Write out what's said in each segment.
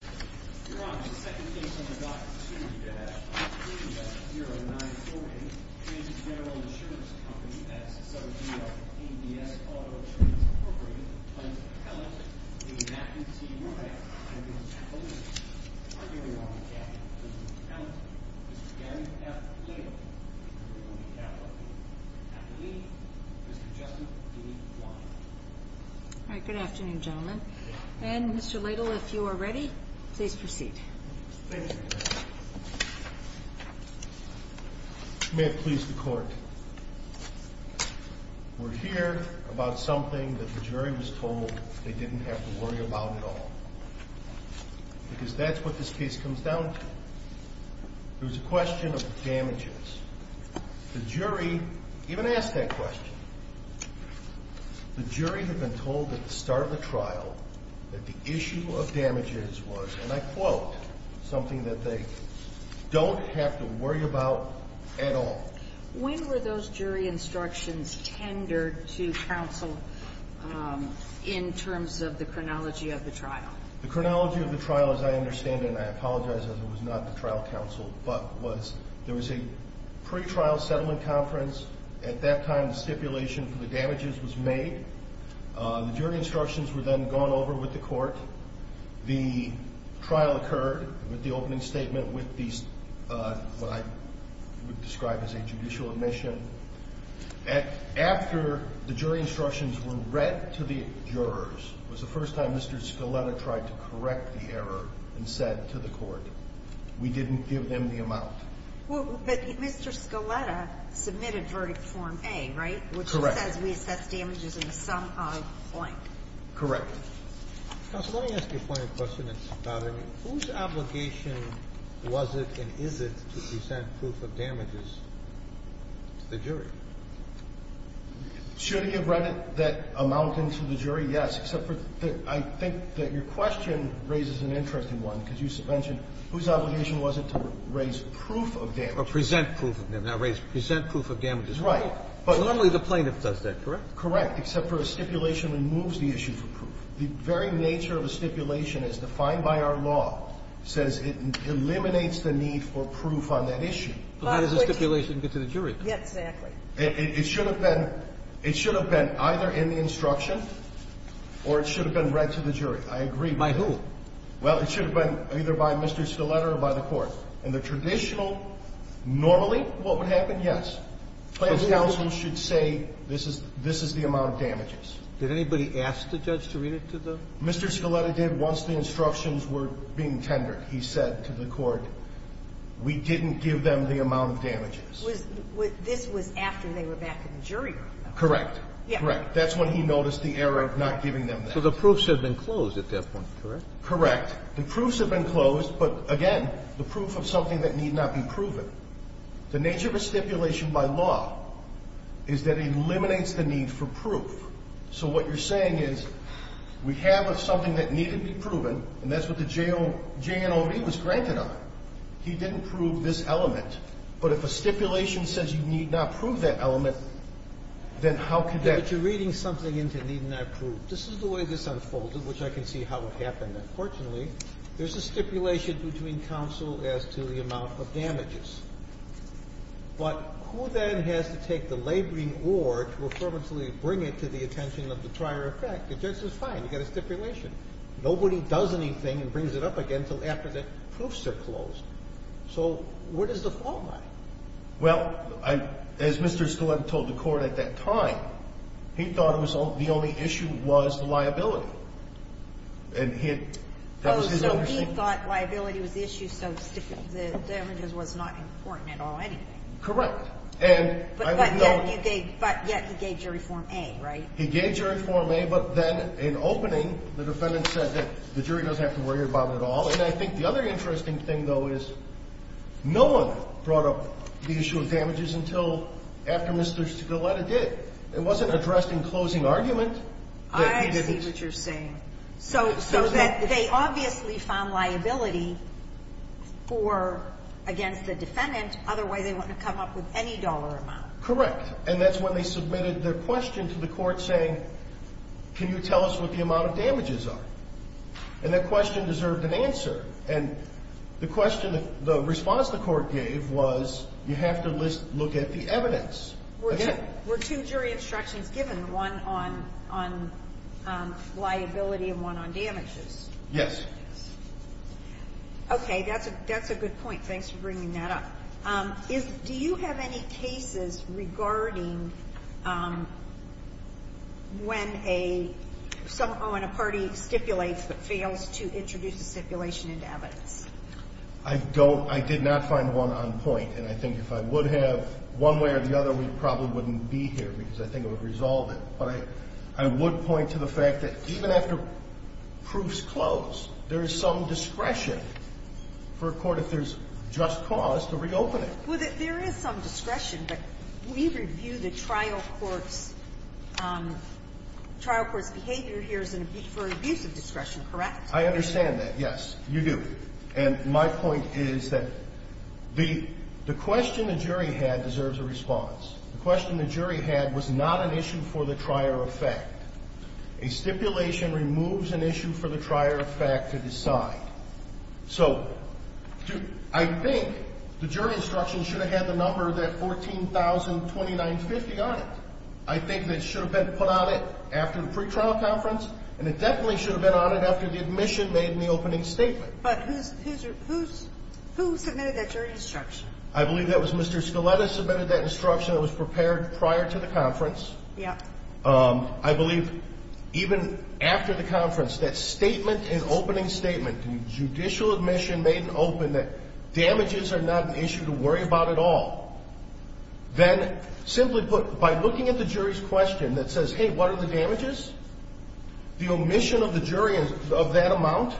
You're on to the second case on the docket, 2-B-F-I-3-S-0-9-4-A. Agent General Insurance Company, S-O-G-F-A-D-S-Auto Insurance Incorporated. Client Appellant, D-A-P-P-T-R-A. Agent General Appellant, Targeting Market Capital. Client Appellant, Mr. Gary F. Ladle. Targeting Market Capital. Appellee, Mr. Justin D. Wine. Alright, good afternoon gentlemen. And Mr. Ladle, if you are ready, please proceed. Thank you. May it please the court. We're here about something that the jury was told they didn't have to worry about at all. Because that's what this case comes down to. It was a question of damages. The jury even asked that question. The jury had been told at the start of the trial that the issue of damages was, and I quote, something that they don't have to worry about at all. When were those jury instructions tendered to counsel in terms of the chronology of the trial? The chronology of the trial, as I understand it, and I apologize as it was not the trial counsel, but there was a pretrial settlement conference. At that time, the stipulation for the damages was made. The jury instructions were then gone over with the court. The trial occurred with the opening statement with what I would describe as a judicial admission. After the jury instructions were read to the jurors, it was the first time Mr. Scaletta tried to correct the error and said to the court, we didn't give them the amount. But Mr. Scaletta submitted verdict form A, right? Correct. Which says we assess damages in the sum of blank. Correct. Counsel, let me ask you a point of question that's bothering me. Whose obligation was it and is it to present proof of damages to the jury? Should he have read that amount into the jury? Yes. Except for I think that your question raises an interesting one, because you mentioned whose obligation was it to raise proof of damages. Or present proof of damages, not raise proof. Present proof of damages. Right. But normally the plaintiff does that, correct? Correct, except for a stipulation removes the issue for proof. The very nature of a stipulation as defined by our law says it eliminates the need for proof on that issue. But how does the stipulation get to the jury? Exactly. It should have been either in the instruction or it should have been read to the jury. I agree. By who? Well, it should have been either by Mr. Scaletta or by the court. And the traditional normally what would happen? Yes. Plaintiff's counsel should say this is the amount of damages. Did anybody ask the judge to read it to them? Mr. Scaletta did once the instructions were being tendered. He said to the court we didn't give them the amount of damages. This was after they were back in the jury room. Correct. Correct. That's when he noticed the error of not giving them that. So the proofs had been closed at that point, correct? Correct. The proofs had been closed, but, again, the proof of something that need not be proven. The nature of a stipulation by law is that it eliminates the need for proof. So what you're saying is we have something that needed to be proven, and that's what the JNOD was granted on. He didn't prove this element. But if a stipulation says you need not prove that element, then how could that But you're reading something into need not prove. This is the way this unfolded, which I can see how it happened. Unfortunately, there's a stipulation between counsel as to the amount of damages. But who then has to take the laboring oar to affirmatively bring it to the attention of the prior effect? The judge says fine, you've got a stipulation. Nobody does anything and brings it up again until after the proofs are closed. So where does the fault lie? Well, as Mr. Stiletto told the court at that time, he thought the only issue was the liability. So he thought liability was the issue, so the damages was not important at all anyway. Correct. But yet he gave jury form A, right? He gave jury form A, but then in opening, the defendant said that the jury doesn't have to worry about it at all. And I think the other interesting thing, though, is no one brought up the issue of damages until after Mr. Stiletto did. It wasn't addressed in closing argument. I see what you're saying. So that they obviously found liability against the defendant. Otherwise, they wouldn't have come up with any dollar amount. Correct. And that's when they submitted their question to the court saying, can you tell us what the amount of damages are? And that question deserved an answer. And the response the court gave was, you have to look at the evidence. Were two jury instructions given, one on liability and one on damages? Yes. Okay, that's a good point. Thanks for bringing that up. Do you have any cases regarding when a party stipulates but fails to introduce a stipulation into evidence? I did not find one on point. And I think if I would have, one way or the other, we probably wouldn't be here because I think it would resolve it. But I would point to the fact that even after proofs close, there is some discretion, but we review the trial court's behavior here for abuse of discretion, correct? I understand that, yes. You do. And my point is that the question the jury had deserves a response. The question the jury had was not an issue for the trier of fact. A stipulation removes an issue for the trier of fact to decide. So I think the jury instruction should have had the number that 14,029.50 on it. I think that should have been put on it after the pretrial conference, and it definitely should have been on it after the admission made in the opening statement. But who submitted that jury instruction? I believe that was Mr. Scaletta submitted that instruction that was prepared prior to the conference. Yes. I believe even after the conference, that statement, an opening statement, judicial admission made in open that damages are not an issue to worry about at all. Then simply put, by looking at the jury's question that says, hey, what are the damages? The omission of the jury of that amount,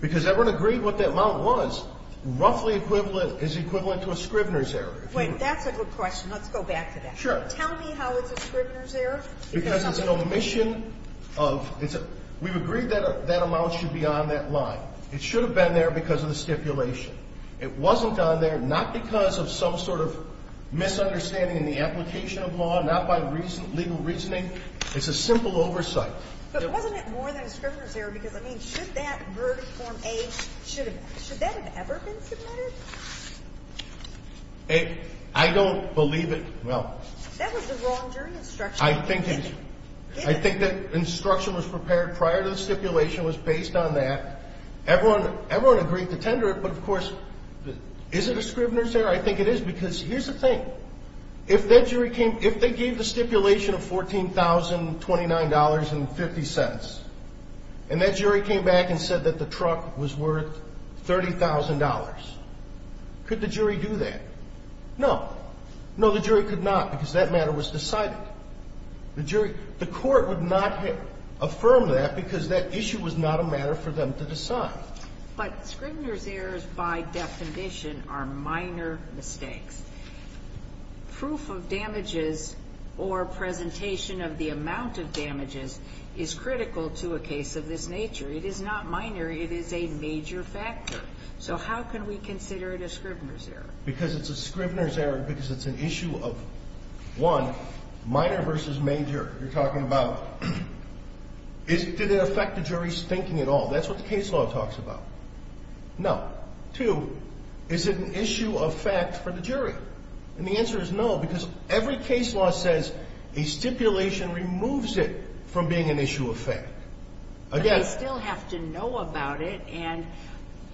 because everyone agreed what that amount was, roughly is equivalent to a Scrivener's error. That's a good question. Let's go back to that. Sure. Tell me how it's a Scrivener's error. Because it's an omission of, we've agreed that that amount should be on that line. It should have been there because of the stipulation. It wasn't on there not because of some sort of misunderstanding in the application of law, not by legal reasoning. It's a simple oversight. But wasn't it more than a Scrivener's error? Because, I mean, should that verdict form A, should that have ever been submitted? I don't believe it. That was the wrong jury instruction. I think that instruction was prepared prior to the stipulation, was based on that. Everyone agreed to tender it. But, of course, is it a Scrivener's error? I think it is. Because here's the thing. If that jury came, if they gave the stipulation of $14,029.50 and that jury came back and said that the truck was worth $30,000, could the jury do that? No. No, the jury could not because that matter was decided. The jury – the court would not affirm that because that issue was not a matter for them to decide. But Scrivener's errors, by definition, are minor mistakes. Proof of damages or presentation of the amount of damages is critical to a case of this nature. It is not minor. So how can we consider it a Scrivener's error? Because it's a Scrivener's error because it's an issue of, one, minor versus major. You're talking about did it affect the jury's thinking at all? That's what the case law talks about. No. Two, is it an issue of fact for the jury? And the answer is no because every case law says a stipulation removes it from being an issue of fact. But they still have to know about it. And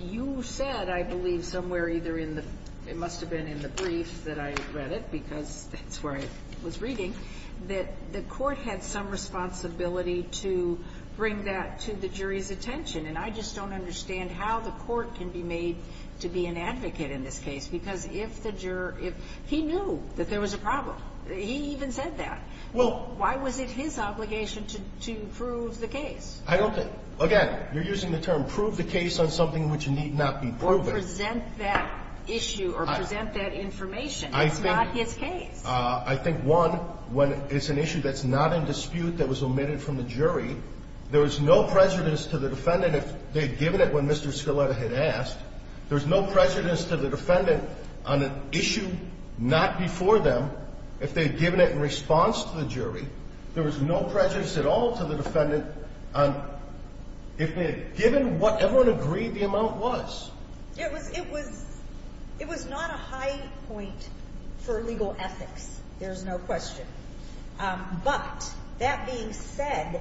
you said, I believe, somewhere either in the – it must have been in the brief that I read it because that's where I was reading – that the court had some responsibility to bring that to the jury's attention. And I just don't understand how the court can be made to be an advocate in this case because if the juror – he knew that there was a problem. He even said that. Why was it his obligation to prove the case? I don't think – again, you're using the term prove the case on something which need not be proven. Or present that issue or present that information. It's not his case. I think, one, when it's an issue that's not in dispute that was omitted from the jury, there was no prejudice to the defendant if they had given it when Mr. Scaletta had asked. There was no prejudice to the defendant on an issue not before them if they had given it in response to the jury. There was no prejudice at all to the defendant on – if they had given what everyone agreed the amount was. It was not a high point for legal ethics. There's no question. But that being said,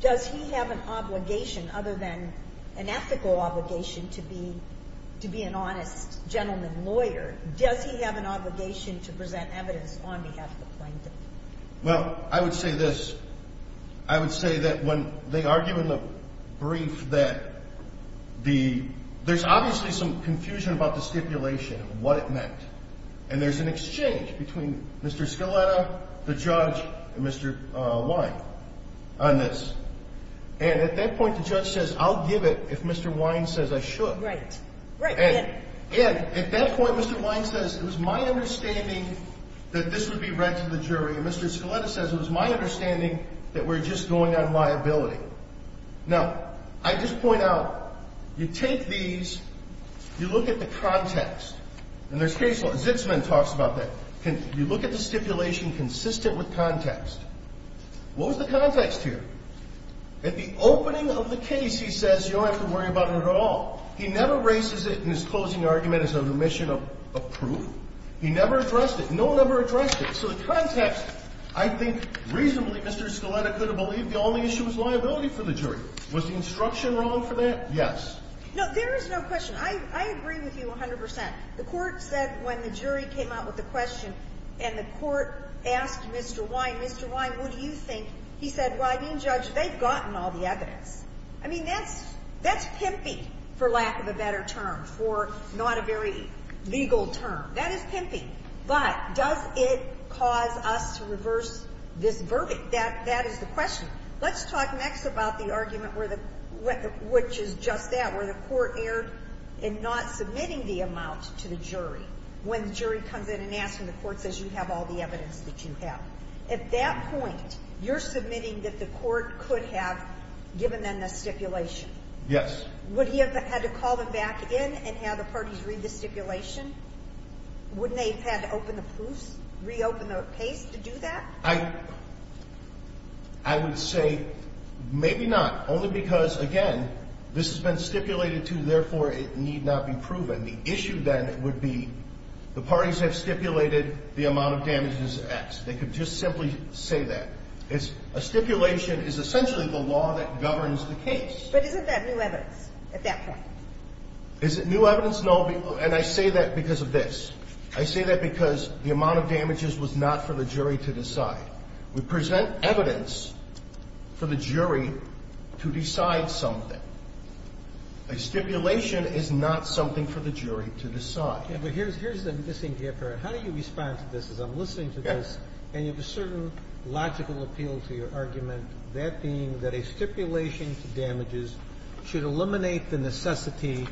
does he have an obligation other than an ethical obligation to be an honest gentleman lawyer? Does he have an obligation to present evidence on behalf of the plaintiff? Well, I would say this. I would say that when they argue in the brief that the – there's obviously some confusion about the stipulation, what it meant. And there's an exchange between Mr. Scaletta, the judge, and Mr. Wine on this. And at that point, the judge says, I'll give it if Mr. Wine says I should. Right. And at that point, Mr. Wine says it was my understanding that this would be read to the jury. And Mr. Scaletta says it was my understanding that we're just going on liability. Now, I just point out, you take these, you look at the context. And there's case law. Zitzman talks about that. You look at the stipulation consistent with context. What was the context here? At the opening of the case, he says you don't have to worry about it at all. He never raises it in his closing argument as an omission of proof. He never addressed it. No one ever addressed it. So the context, I think reasonably Mr. Scaletta could have believed the only issue was liability for the jury. Was the instruction wrong for that? Yes. No, there is no question. I agree with you 100 percent. The Court said when the jury came out with the question and the Court asked Mr. Wine, Mr. Wine, what do you think? He said, well, I mean, Judge, they've gotten all the evidence. I mean, that's pimpy, for lack of a better term, for not a very legal term. That is pimpy. But does it cause us to reverse this verdict? That is the question. Let's talk next about the argument where the – which is just that, where the Court erred in not submitting the amount to the jury when the jury comes in and asks and the Court says you have all the evidence that you have. At that point, you're submitting that the Court could have given them the stipulation. Yes. Would he have had to call them back in and have the parties read the stipulation? Wouldn't they have had to open the proofs, reopen the case to do that? I would say maybe not, only because, again, this has been stipulated to, therefore it need not be proven. The issue then would be the parties have stipulated the amount of damage is X. They could just simply say that. A stipulation is essentially the law that governs the case. But isn't that new evidence at that point? Is it new evidence? No, and I say that because of this. I say that because the amount of damages was not for the jury to decide. We present evidence for the jury to decide something. A stipulation is not something for the jury to decide. Ginsburg. It was a trial. Here's the missing part. How do you respond to this as I'm listening to this? And you have a certain logical appeal to your argument, that being that a stipulation to damages should eliminate the necessity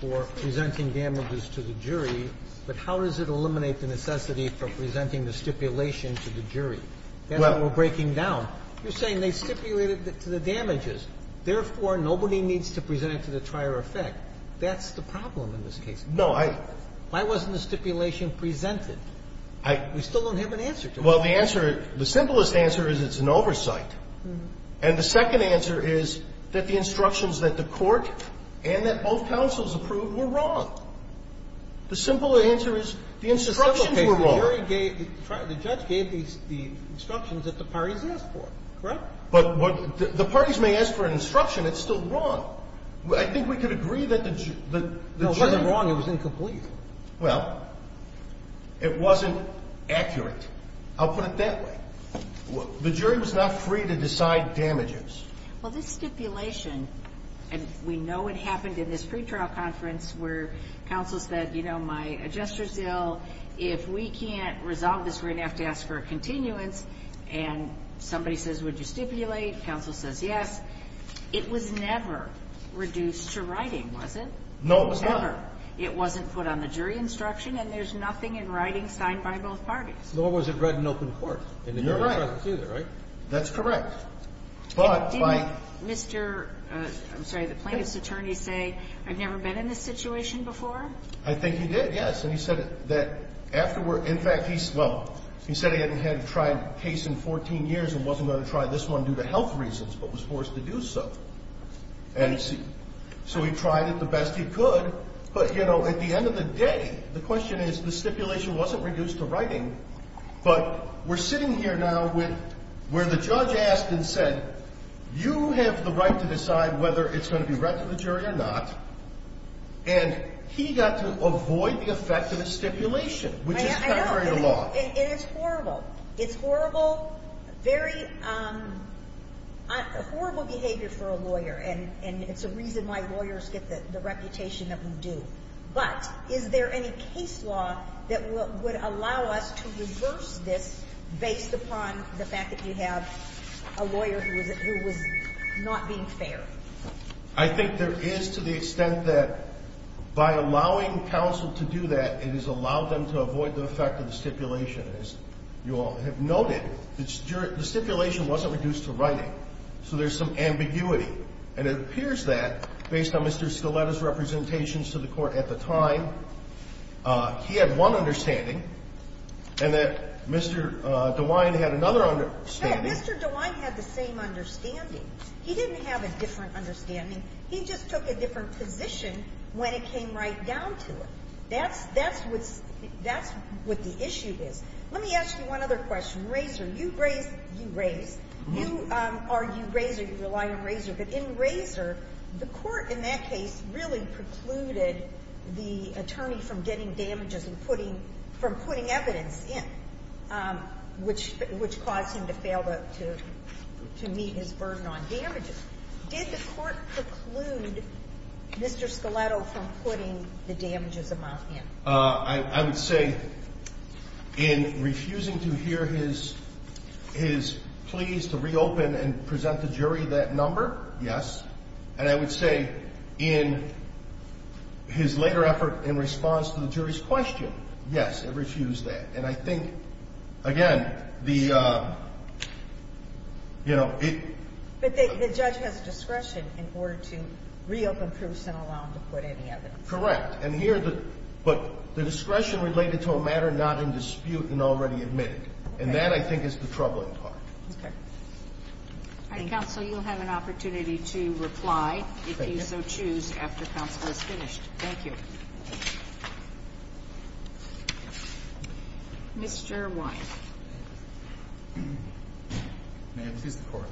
for presenting damages to the jury. But how does it eliminate the necessity for presenting the stipulation to the jury? That's what we're breaking down. You're saying they stipulated to the damages. Therefore, nobody needs to present it to the trier of effect. That's the problem in this case. No, I... Why wasn't the stipulation presented? I... We still don't have an answer to it. Well, the answer, the simplest answer is it's an oversight. And the second answer is that the instructions that the Court and that both counsels approved were wrong. The simple answer is the instructions were wrong. The instructions were wrong. The jury gave, the judge gave the instructions that the parties asked for. Correct? But the parties may ask for an instruction. It's still wrong. I think we could agree that the jury... No, it wasn't wrong. It was incomplete. Well, it wasn't accurate. I'll put it that way. The jury was not free to decide damages. Well, this stipulation, and we know it happened in this pretrial conference where counsel said, you know, my adjuster's ill. If we can't resolve this, we're going to have to ask for a continuance. And somebody says, would you stipulate? Counsel says yes. It was never reduced to writing, was it? No, it was not. Never. It wasn't put on the jury instruction, and there's nothing in writing signed by both parties. Nor was it read in open court in the jury's presence either, right? You're right. That's correct. But by... I think he did, yes. And he said that afterward, in fact, he's... Well, he said he hadn't had to try a case in 14 years and wasn't going to try this one due to health reasons but was forced to do so. And so he tried it the best he could. But, you know, at the end of the day, the question is, the stipulation wasn't reduced to writing. But we're sitting here now where the judge asked and said, you have the right to decide whether it's going to be read to the jury or not. And he got to avoid the effect of the stipulation, which is contrary to law. I know. And it's horrible. It's horrible, very horrible behavior for a lawyer. And it's a reason why lawyers get the reputation that we do. But is there any case law that would allow us to reverse this based upon the fact that you have a lawyer who was not being fair? I think there is to the extent that by allowing counsel to do that, it has allowed them to avoid the effect of the stipulation. As you all have noted, the stipulation wasn't reduced to writing. So there's some ambiguity. And it appears that, based on Mr. Scaletta's representations to the court at the time, he had one understanding and that Mr. DeWine had another understanding. No. Mr. DeWine had the same understanding. He didn't have a different understanding. He just took a different position when it came right down to it. That's what the issue is. Let me ask you one other question. In Razor, the court in that case really precluded the attorney from getting damages and from putting evidence in, which caused him to meet his burden on damages. Did the court preclude Mr. Scaletta from putting the damages among him? I would say in refusing to hear his pleas to reopen and present the jury that number, yes. And I would say in his later effort in response to the jury's question, yes, it refused that. And I think, again, the, you know, it – But the judge has discretion in order to reopen proofs and allow him to put any evidence. Correct. And here the – but the discretion related to a matter not in dispute and already admitted. And that, I think, is the troubling part. Okay. All right. Counsel, you'll have an opportunity to reply if you so choose after counsel is finished. Mr. Wyeth. Ma'am, please, the Court.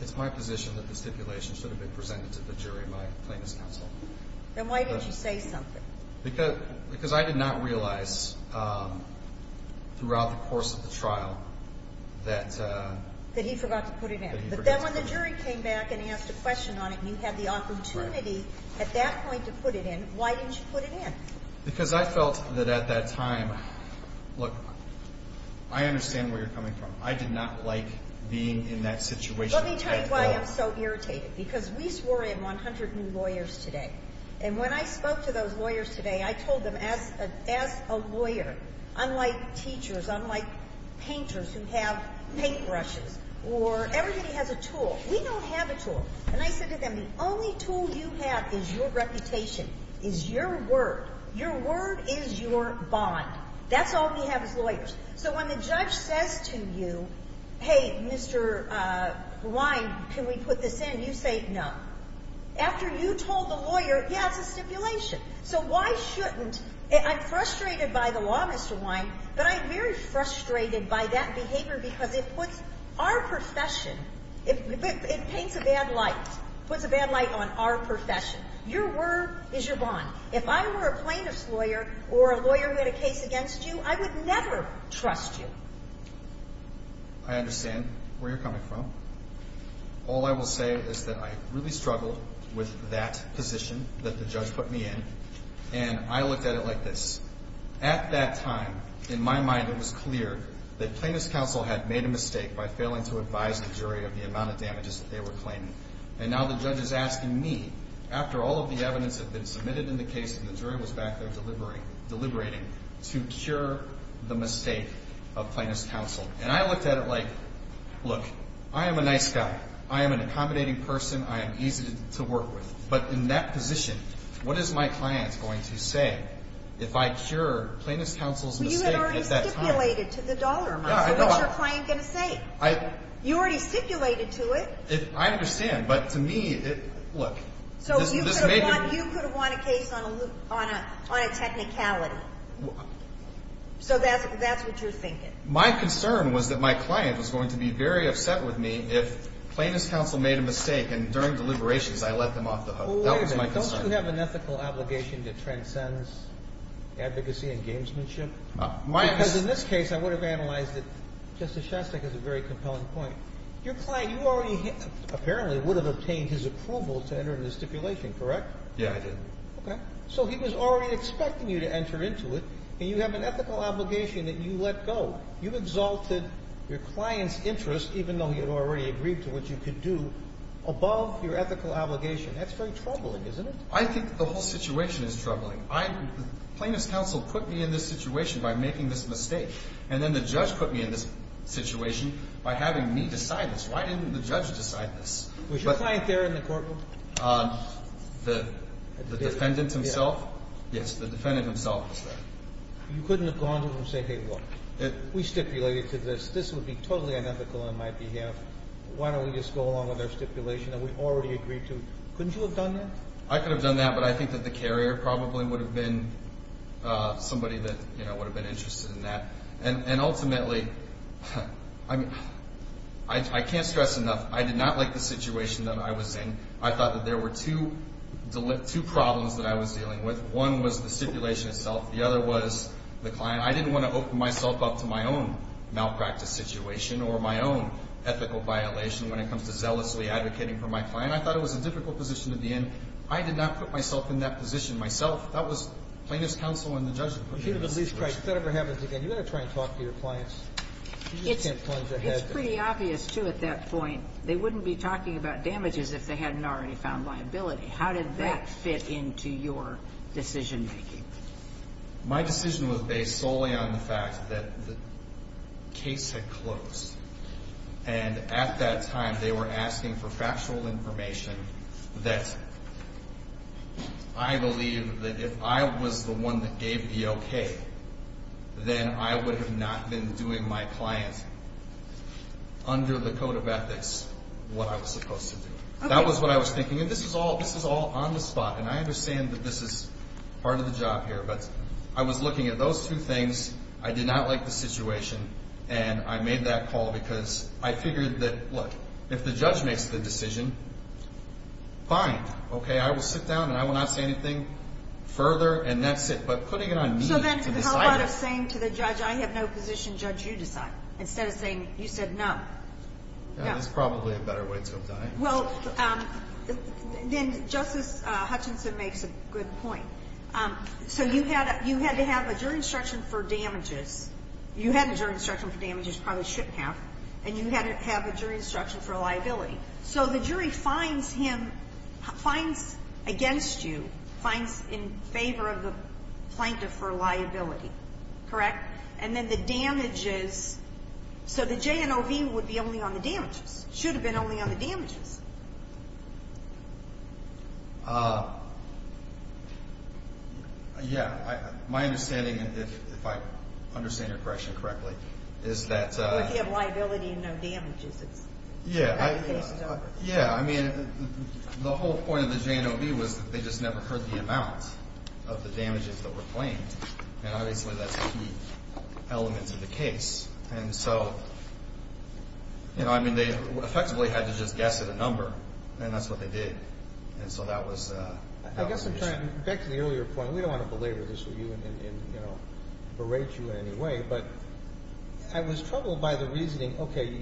It's my position that the stipulation should have been presented to the jury by plaintiff's counsel. Then why did you say something? Because I did not realize throughout the course of the trial that – That he forgot to put it in. That he forgot to put it in. But then when the jury came back and asked a question on it, you had the opportunity at that point to put it in. Why didn't you put it in? Because I felt that at that time – look, I understand where you're coming from. I did not like being in that situation. Let me tell you why I'm so irritated, because we swore in 100 new lawyers today. And when I spoke to those lawyers today, I told them, as a lawyer, unlike teachers, unlike painters who have paintbrushes, or everybody has a tool. We don't have a tool. And I said to them, the only tool you have is your reputation, is your word. Your word is your bond. That's all we have as lawyers. So when the judge says to you, hey, Mr. Wyeth, can we put this in, you say no. After you told the lawyer, yeah, it's a stipulation. So why shouldn't – I'm frustrated by the law, Mr. Wyeth, but I'm very frustrated by that behavior because it puts our profession – it paints a bad light. It puts a bad light on our profession. Your word is your bond. If I were a plaintiff's lawyer or a lawyer who had a case against you, I would never trust you. I understand where you're coming from. All I will say is that I really struggled with that position that the judge put me in, and I looked at it like this. At that time, in my mind, it was clear that plaintiff's counsel had made a mistake by failing to advise the jury of the amount of damages that they were claiming. And now the judge is asking me, after all of the evidence had been submitted in the case and the jury was back there deliberating, to cure the mistake of plaintiff's counsel. And I looked at it like, look, I am a nice guy. I am an accommodating person. I am easy to work with. But in that position, what is my client going to say if I cure plaintiff's counsel's mistake at that time? Well, you had already stipulated to the dollar amount. So what's your client going to say? You already stipulated to it. I understand, but to me, look, this may be – So you could have won a case on a technicality. So that's what you're thinking. My concern was that my client was going to be very upset with me if plaintiff's counsel made a mistake and during deliberations I let them off the hook. Wait a minute. Don't you have an ethical obligation that transcends advocacy and gamesmanship? My – Because in this case, I would have analyzed it. Justice Shostak has a very compelling point. Your client, you already – apparently would have obtained his approval to enter into stipulation, correct? Yes, I did. Okay. So he was already expecting you to enter into it, and you have an ethical obligation that you let go. You've exalted your client's interest, even though he had already agreed to what you could do, above your ethical obligation. That's very troubling, isn't it? I think the whole situation is troubling. Plaintiff's counsel put me in this situation by making this mistake, and then the judge put me in this situation by having me decide this. Why didn't the judge decide this? Was your client there in the courtroom? The defendant himself? Yes. Yes, the defendant himself was there. You couldn't have gone to him and said, hey, look, we stipulated to this. This would be totally unethical on my behalf. Why don't we just go along with our stipulation that we already agreed to? Couldn't you have done that? I could have done that, but I think that the carrier probably would have been somebody that, you know, would have been interested in that. And ultimately, I mean, I can't stress enough. I did not like the situation that I was in. I thought that there were two problems that I was dealing with. One was the stipulation itself. The other was the client. I didn't want to open myself up to my own malpractice situation or my own ethical violation when it comes to zealously advocating for my client. I thought it was a difficult position to be in. I did not put myself in that position myself. That was plaintiff's counsel and the judge put me in this situation. If that ever happens again, you've got to try and talk to your clients. You just can't plunge their head there. It's pretty obvious, too, at that point. They wouldn't be talking about damages if they hadn't already found liability. How did that fit into your decision-making? My decision was based solely on the fact that the case had closed. And at that time, they were asking for factual information that I believe that if I was the one that gave the okay, then I would have not been doing my client, under the code of ethics, what I was supposed to do. That was what I was thinking. And this is all on the spot, and I understand that this is part of the job here. But I was looking at those two things. I did not like the situation, and I made that call because I figured that, look, if the judge makes the decision, fine. Okay, I will sit down and I will not say anything further, and that's it. But putting it on me to decide it. So then how about saying to the judge, I have no position. Judge, you decide, instead of saying, you said no. No. That's probably a better way to have done it. Well, then Justice Hutchinson makes a good point. So you had to have a jury instruction for damages. You had a jury instruction for damages, probably shouldn't have. And you had to have a jury instruction for liability. So the jury fines him, fines against you, fines in favor of the plaintiff for liability, correct? And then the damages, so the J&OV would be only on the damages, should have been only on the damages. Yeah, my understanding, if I understand your question correctly, is that... Yeah, I mean, the whole point of the J&OV was that they just never heard the amount of the damages that were claimed. And obviously, that's a key element of the case. And so, you know, I mean, they effectively had to just guess at a number, and that's what they did. And so that was... I guess I'm trying to get to the earlier point. We don't want to belabor this with you and, you know, berate you in any way. But I was troubled by the reasoning. Okay,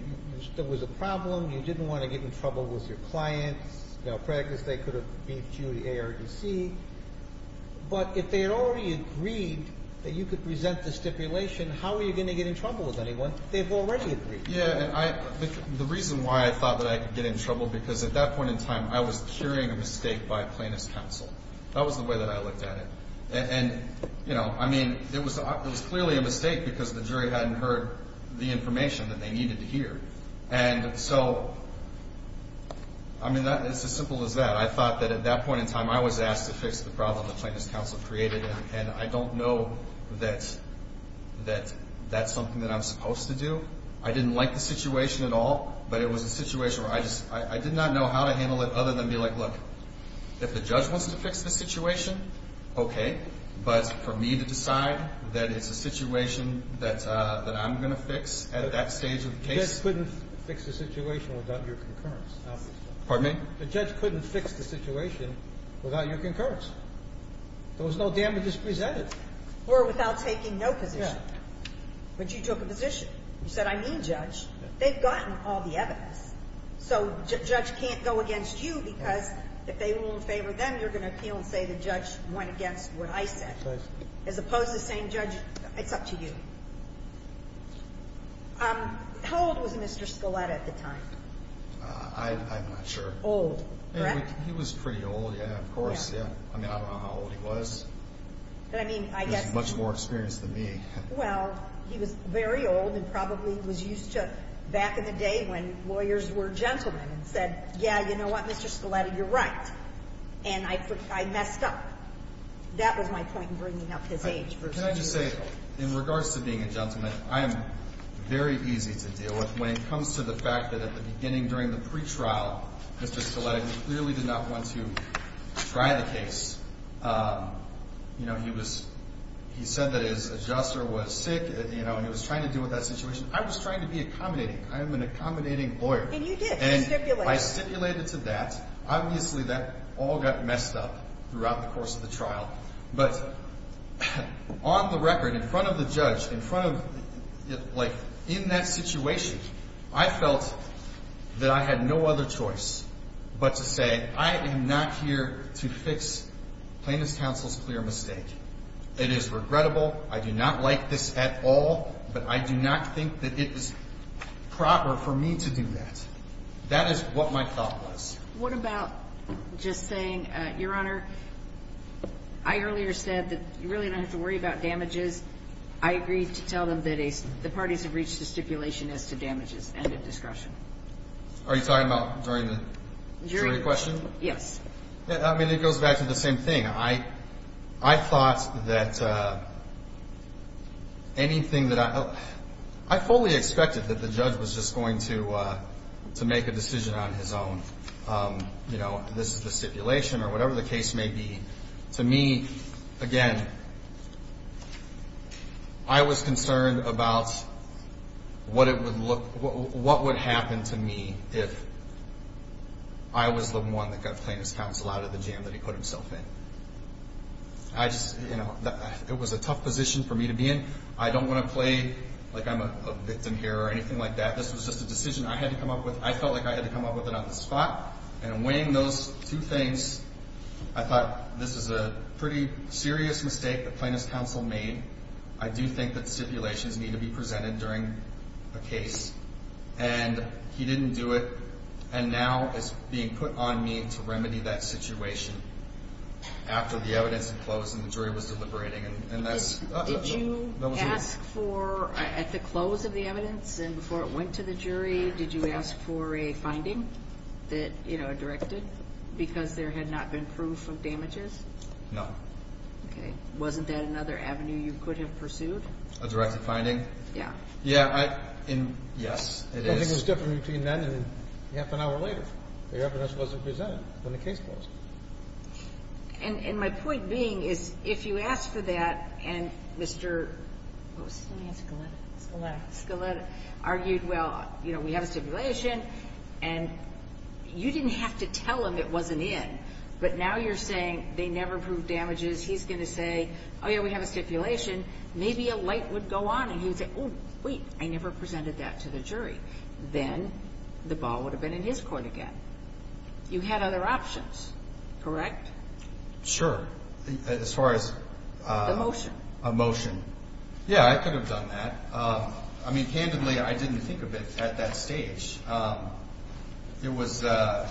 there was a problem. You didn't want to get in trouble with your clients. In practice, they could have beat you to ARDC. But if they had already agreed that you could present the stipulation, how were you going to get in trouble with anyone? They've already agreed. Yeah, and I... The reason why I thought that I could get in trouble, because at that point in time, I was curing a mistake by plaintiff's counsel. That was the way that I looked at it. And, you know, I mean, it was clearly a mistake because the jury hadn't heard the information that they needed to hear. And so, I mean, it's as simple as that. I thought that at that point in time, I was asked to fix the problem that plaintiff's counsel created, and I don't know that that's something that I'm supposed to do. I didn't like the situation at all, but it was a situation where I just... But for me to decide that it's a situation that I'm going to fix at that stage of the case... The judge couldn't fix the situation without your concurrence. Pardon me? The judge couldn't fix the situation without your concurrence. There was no damages presented. Or without taking no position. Yeah. But you took a position. You said, I need a judge. They've gotten all the evidence. So the judge can't go against you because if they rule in favor of them, you're going to appeal and say the judge went against what I said. As opposed to saying, Judge, it's up to you. How old was Mr. Scaletta at the time? I'm not sure. Old. Correct? He was pretty old, yeah, of course. Yeah. I mean, I don't know how old he was. But, I mean, I guess... He was much more experienced than me. Well, he was very old and probably was used to back in the day when lawyers were gentlemen and said, yeah, you know what, Mr. Scaletta, you're right. And I messed up. That was my point in bringing up his age versus his age. Can I just say, in regards to being a gentleman, I am very easy to deal with when it comes to the fact that at the beginning during the pretrial, Mr. Scaletta clearly did not want to try the case. You know, he said that his adjuster was sick, you know, and he was trying to deal with that situation. I was trying to be accommodating. I am an accommodating lawyer. And you did. You stipulated. I stipulated to that. But on the record, in front of the judge, in front of, like, in that situation, I felt that I had no other choice but to say I am not here to fix Plaintiff's counsel's clear mistake. It is regrettable. I do not like this at all. But I do not think that it is proper for me to do that. That is what my thought was. What about just saying, Your Honor, I earlier said that you really don't have to worry about damages. I agreed to tell them that the parties have reached a stipulation as to damages. End of discussion. Are you talking about during the jury question? Yes. I mean, it goes back to the same thing. I thought that anything that I fully expected that the judge was just going to make a decision on his own. You know, this is the stipulation or whatever the case may be. To me, again, I was concerned about what it would look, what would happen to me if I was the one that got Plaintiff's counsel out of the jam that he put himself in. I just, you know, it was a tough position for me to be in. I don't want to play like I'm a victim here or anything like that. This was just a decision I had to come up with. I felt like I had to come up with it on the spot. And weighing those two things, I thought this is a pretty serious mistake that Plaintiff's counsel made. I do think that stipulations need to be presented during a case. And he didn't do it. And now it's being put on me to remedy that situation after the evidence had closed and the jury was deliberating. Did you ask for, at the close of the evidence and before it went to the jury, did you ask for a finding that, you know, directed because there had not been proof of damages? No. Okay. Wasn't that another avenue you could have pursued? A directed finding? Yeah. Yeah. Yes, it is. I think it was different between then and half an hour later. The evidence wasn't presented when the case closed. And my point being is if you asked for that and Mr. what was his name again? Scaletta. Scaletta argued, well, you know, we have a stipulation, and you didn't have to tell him it wasn't in. But now you're saying they never proved damages. He's going to say, oh, yeah, we have a stipulation. Maybe a light would go on, and he would say, oh, wait, I never presented that to the jury. Then the ball would have been in his court again. You had other options, correct? Sure. As far as a motion. Yeah, I could have done that. I mean, candidly, I didn't think of it at that stage. It was later,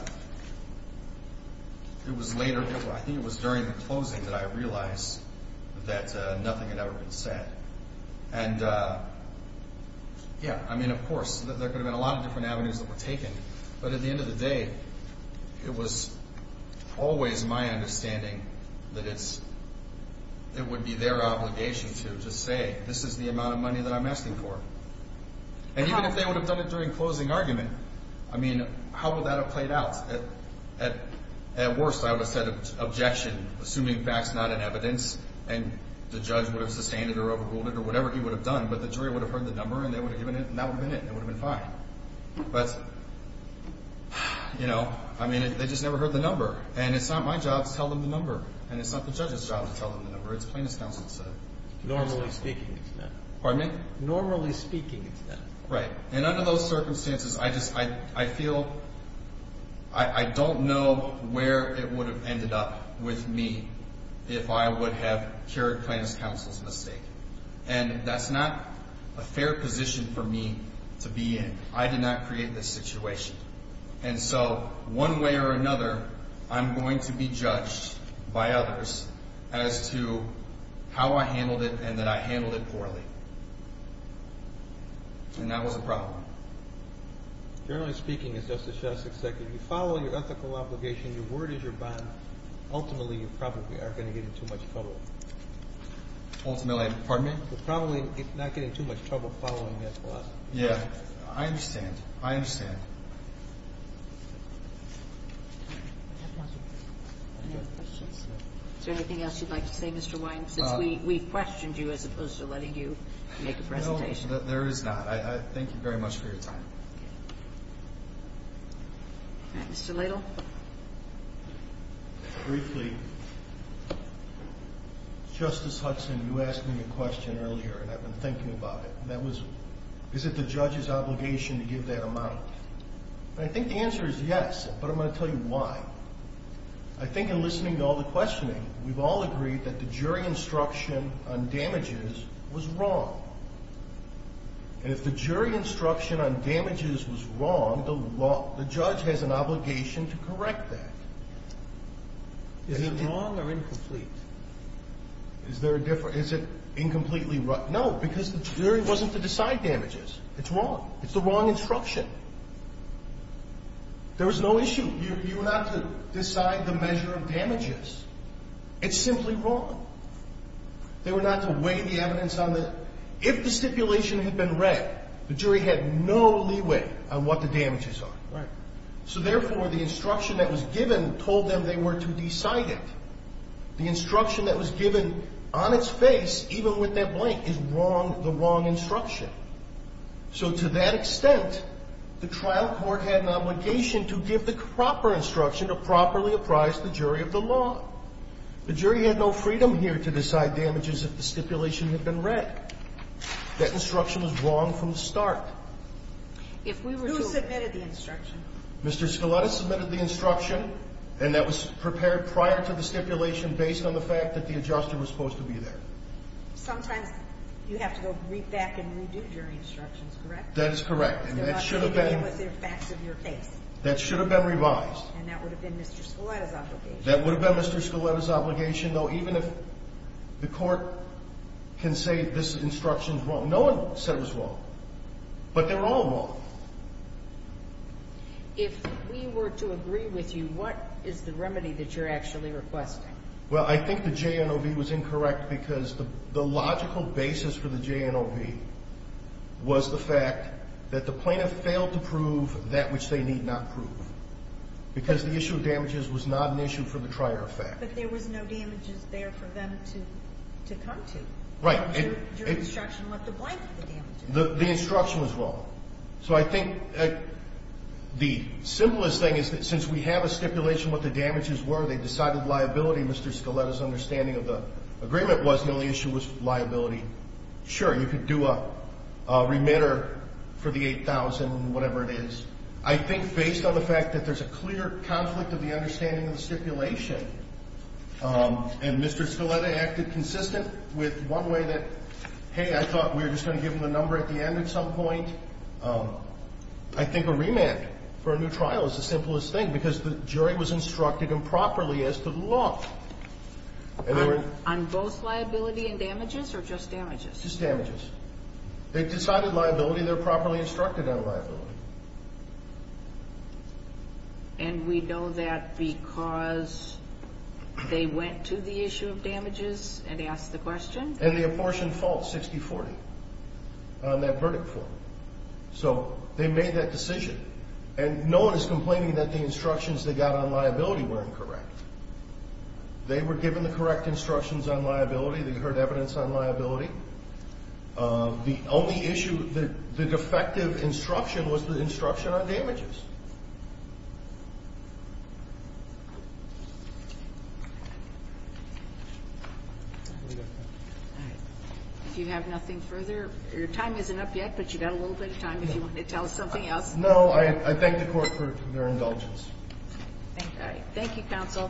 I think it was during the closing that I realized that nothing had ever been said. And, yeah, I mean, of course, there could have been a lot of different avenues that were taken. But at the end of the day, it was always my understanding that it would be their obligation to say this is the amount of money that I'm asking for. And even if they would have done it during closing argument, I mean, how would that have played out? At worst, I would have said objection, assuming facts not in evidence. And the judge would have sustained it or overruled it or whatever he would have done. But the jury would have heard the number, and they would have given it, and that would have been it. It would have been fine. But, you know, I mean, they just never heard the number. And it's not my job to tell them the number. And it's not the judge's job to tell them the number. It's plaintiff's counsel's. Normally speaking, it's not. Pardon me? Normally speaking, it's not. Right. And under those circumstances, I feel I don't know where it would have ended up with me if I would have carried plaintiff's counsel's mistake. And that's not a fair position for me to be in. I did not create this situation. And so one way or another, I'm going to be judged by others as to how I handled it and that I handled it poorly. And that was a problem. Generally speaking, as Justice Shess, if you follow your ethical obligation, your word is your bond, ultimately you probably are going to get in too much trouble. Ultimately, pardon me? You're probably not getting too much trouble following that clause. Yeah. I understand. I understand. Is there anything else you'd like to say, Mr. Wines, since we've questioned you as opposed to letting you make a presentation? No, there is not. Thank you very much for your time. All right. Mr. Ladle? Briefly, Justice Hudson, you asked me a question earlier, and I've been thinking about it, and that was, is it the judge's obligation to give that amount? And I think the answer is yes, but I'm going to tell you why. I think in listening to all the questioning, we've all agreed that the jury instruction on damages was wrong. And if the jury instruction on damages was wrong, the judge has an obligation to correct that. Is it wrong or incomplete? Is there a difference? Is it incompletely wrong? No, because the jury wasn't to decide damages. It's wrong. It's the wrong instruction. There was no issue. You were not to decide the measure of damages. It's simply wrong. They were not to weigh the evidence on the ‑‑ if the stipulation had been read, the jury had no leeway on what the damages are. Right. So, therefore, the instruction that was given told them they were to decide it. The instruction that was given on its face, even with that blank, is wrong, the wrong instruction. So, to that extent, the trial court had an obligation to give the proper instruction to properly apprise the jury of the law. The jury had no freedom here to decide damages if the stipulation had been read. That instruction was wrong from the start. If we were to ‑‑ Who submitted the instruction? Mr. Scaletta submitted the instruction, and that was prepared prior to the stipulation based on the fact that the adjuster was supposed to be there. Sometimes you have to go back and redo jury instructions, correct? That is correct. And that should have been ‑‑ Not to begin with the facts of your case. That should have been revised. And that would have been Mr. Scaletta's obligation. That would have been Mr. Scaletta's obligation, though, even if the court can say this instruction is wrong. No one said it was wrong. But they're all wrong. If we were to agree with you, what is the remedy that you're actually requesting? Well, I think the JNOB was incorrect because the logical basis for the JNOB was the fact that the plaintiff failed to prove that which they need not prove. Because the issue of damages was not an issue for the prior effect. But there was no damages there for them to come to. Right. The instruction was wrong. So I think the simplest thing is that since we have a stipulation what the damages were, they decided liability. Mr. Scaletta's understanding of the agreement was the only issue was liability. Sure, you could do a remitter for the 8,000, whatever it is. I think based on the fact that there's a clear conflict of the understanding of the stipulation, and Mr. Scaletta acted consistent with one way that, hey, I thought we were just going to give him the number at the end at some point. I think a remand for a new trial is the simplest thing because the jury was instructed improperly as to the law. On both liability and damages or just damages? Just damages. They decided liability. They're properly instructed on liability. And we know that because they went to the issue of damages and asked the question? And the apportioned fault, 60-40 on that verdict form. So they made that decision. And no one is complaining that the instructions they got on liability were incorrect. They were given the correct instructions on liability. They heard evidence on liability. The only issue, the defective instruction was the instruction on damages. All right. If you have nothing further, your time isn't up yet, but you've got a little bit of time if you want to tell us something else. No, I thank the court for their indulgence. Thank you, counsel.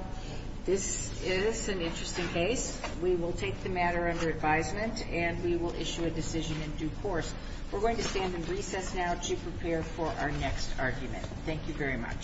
This is an interesting case. We will take the matter under advisement and we will issue a decision in due course. We're going to stand in recess now to prepare for our next argument. Thank you very much.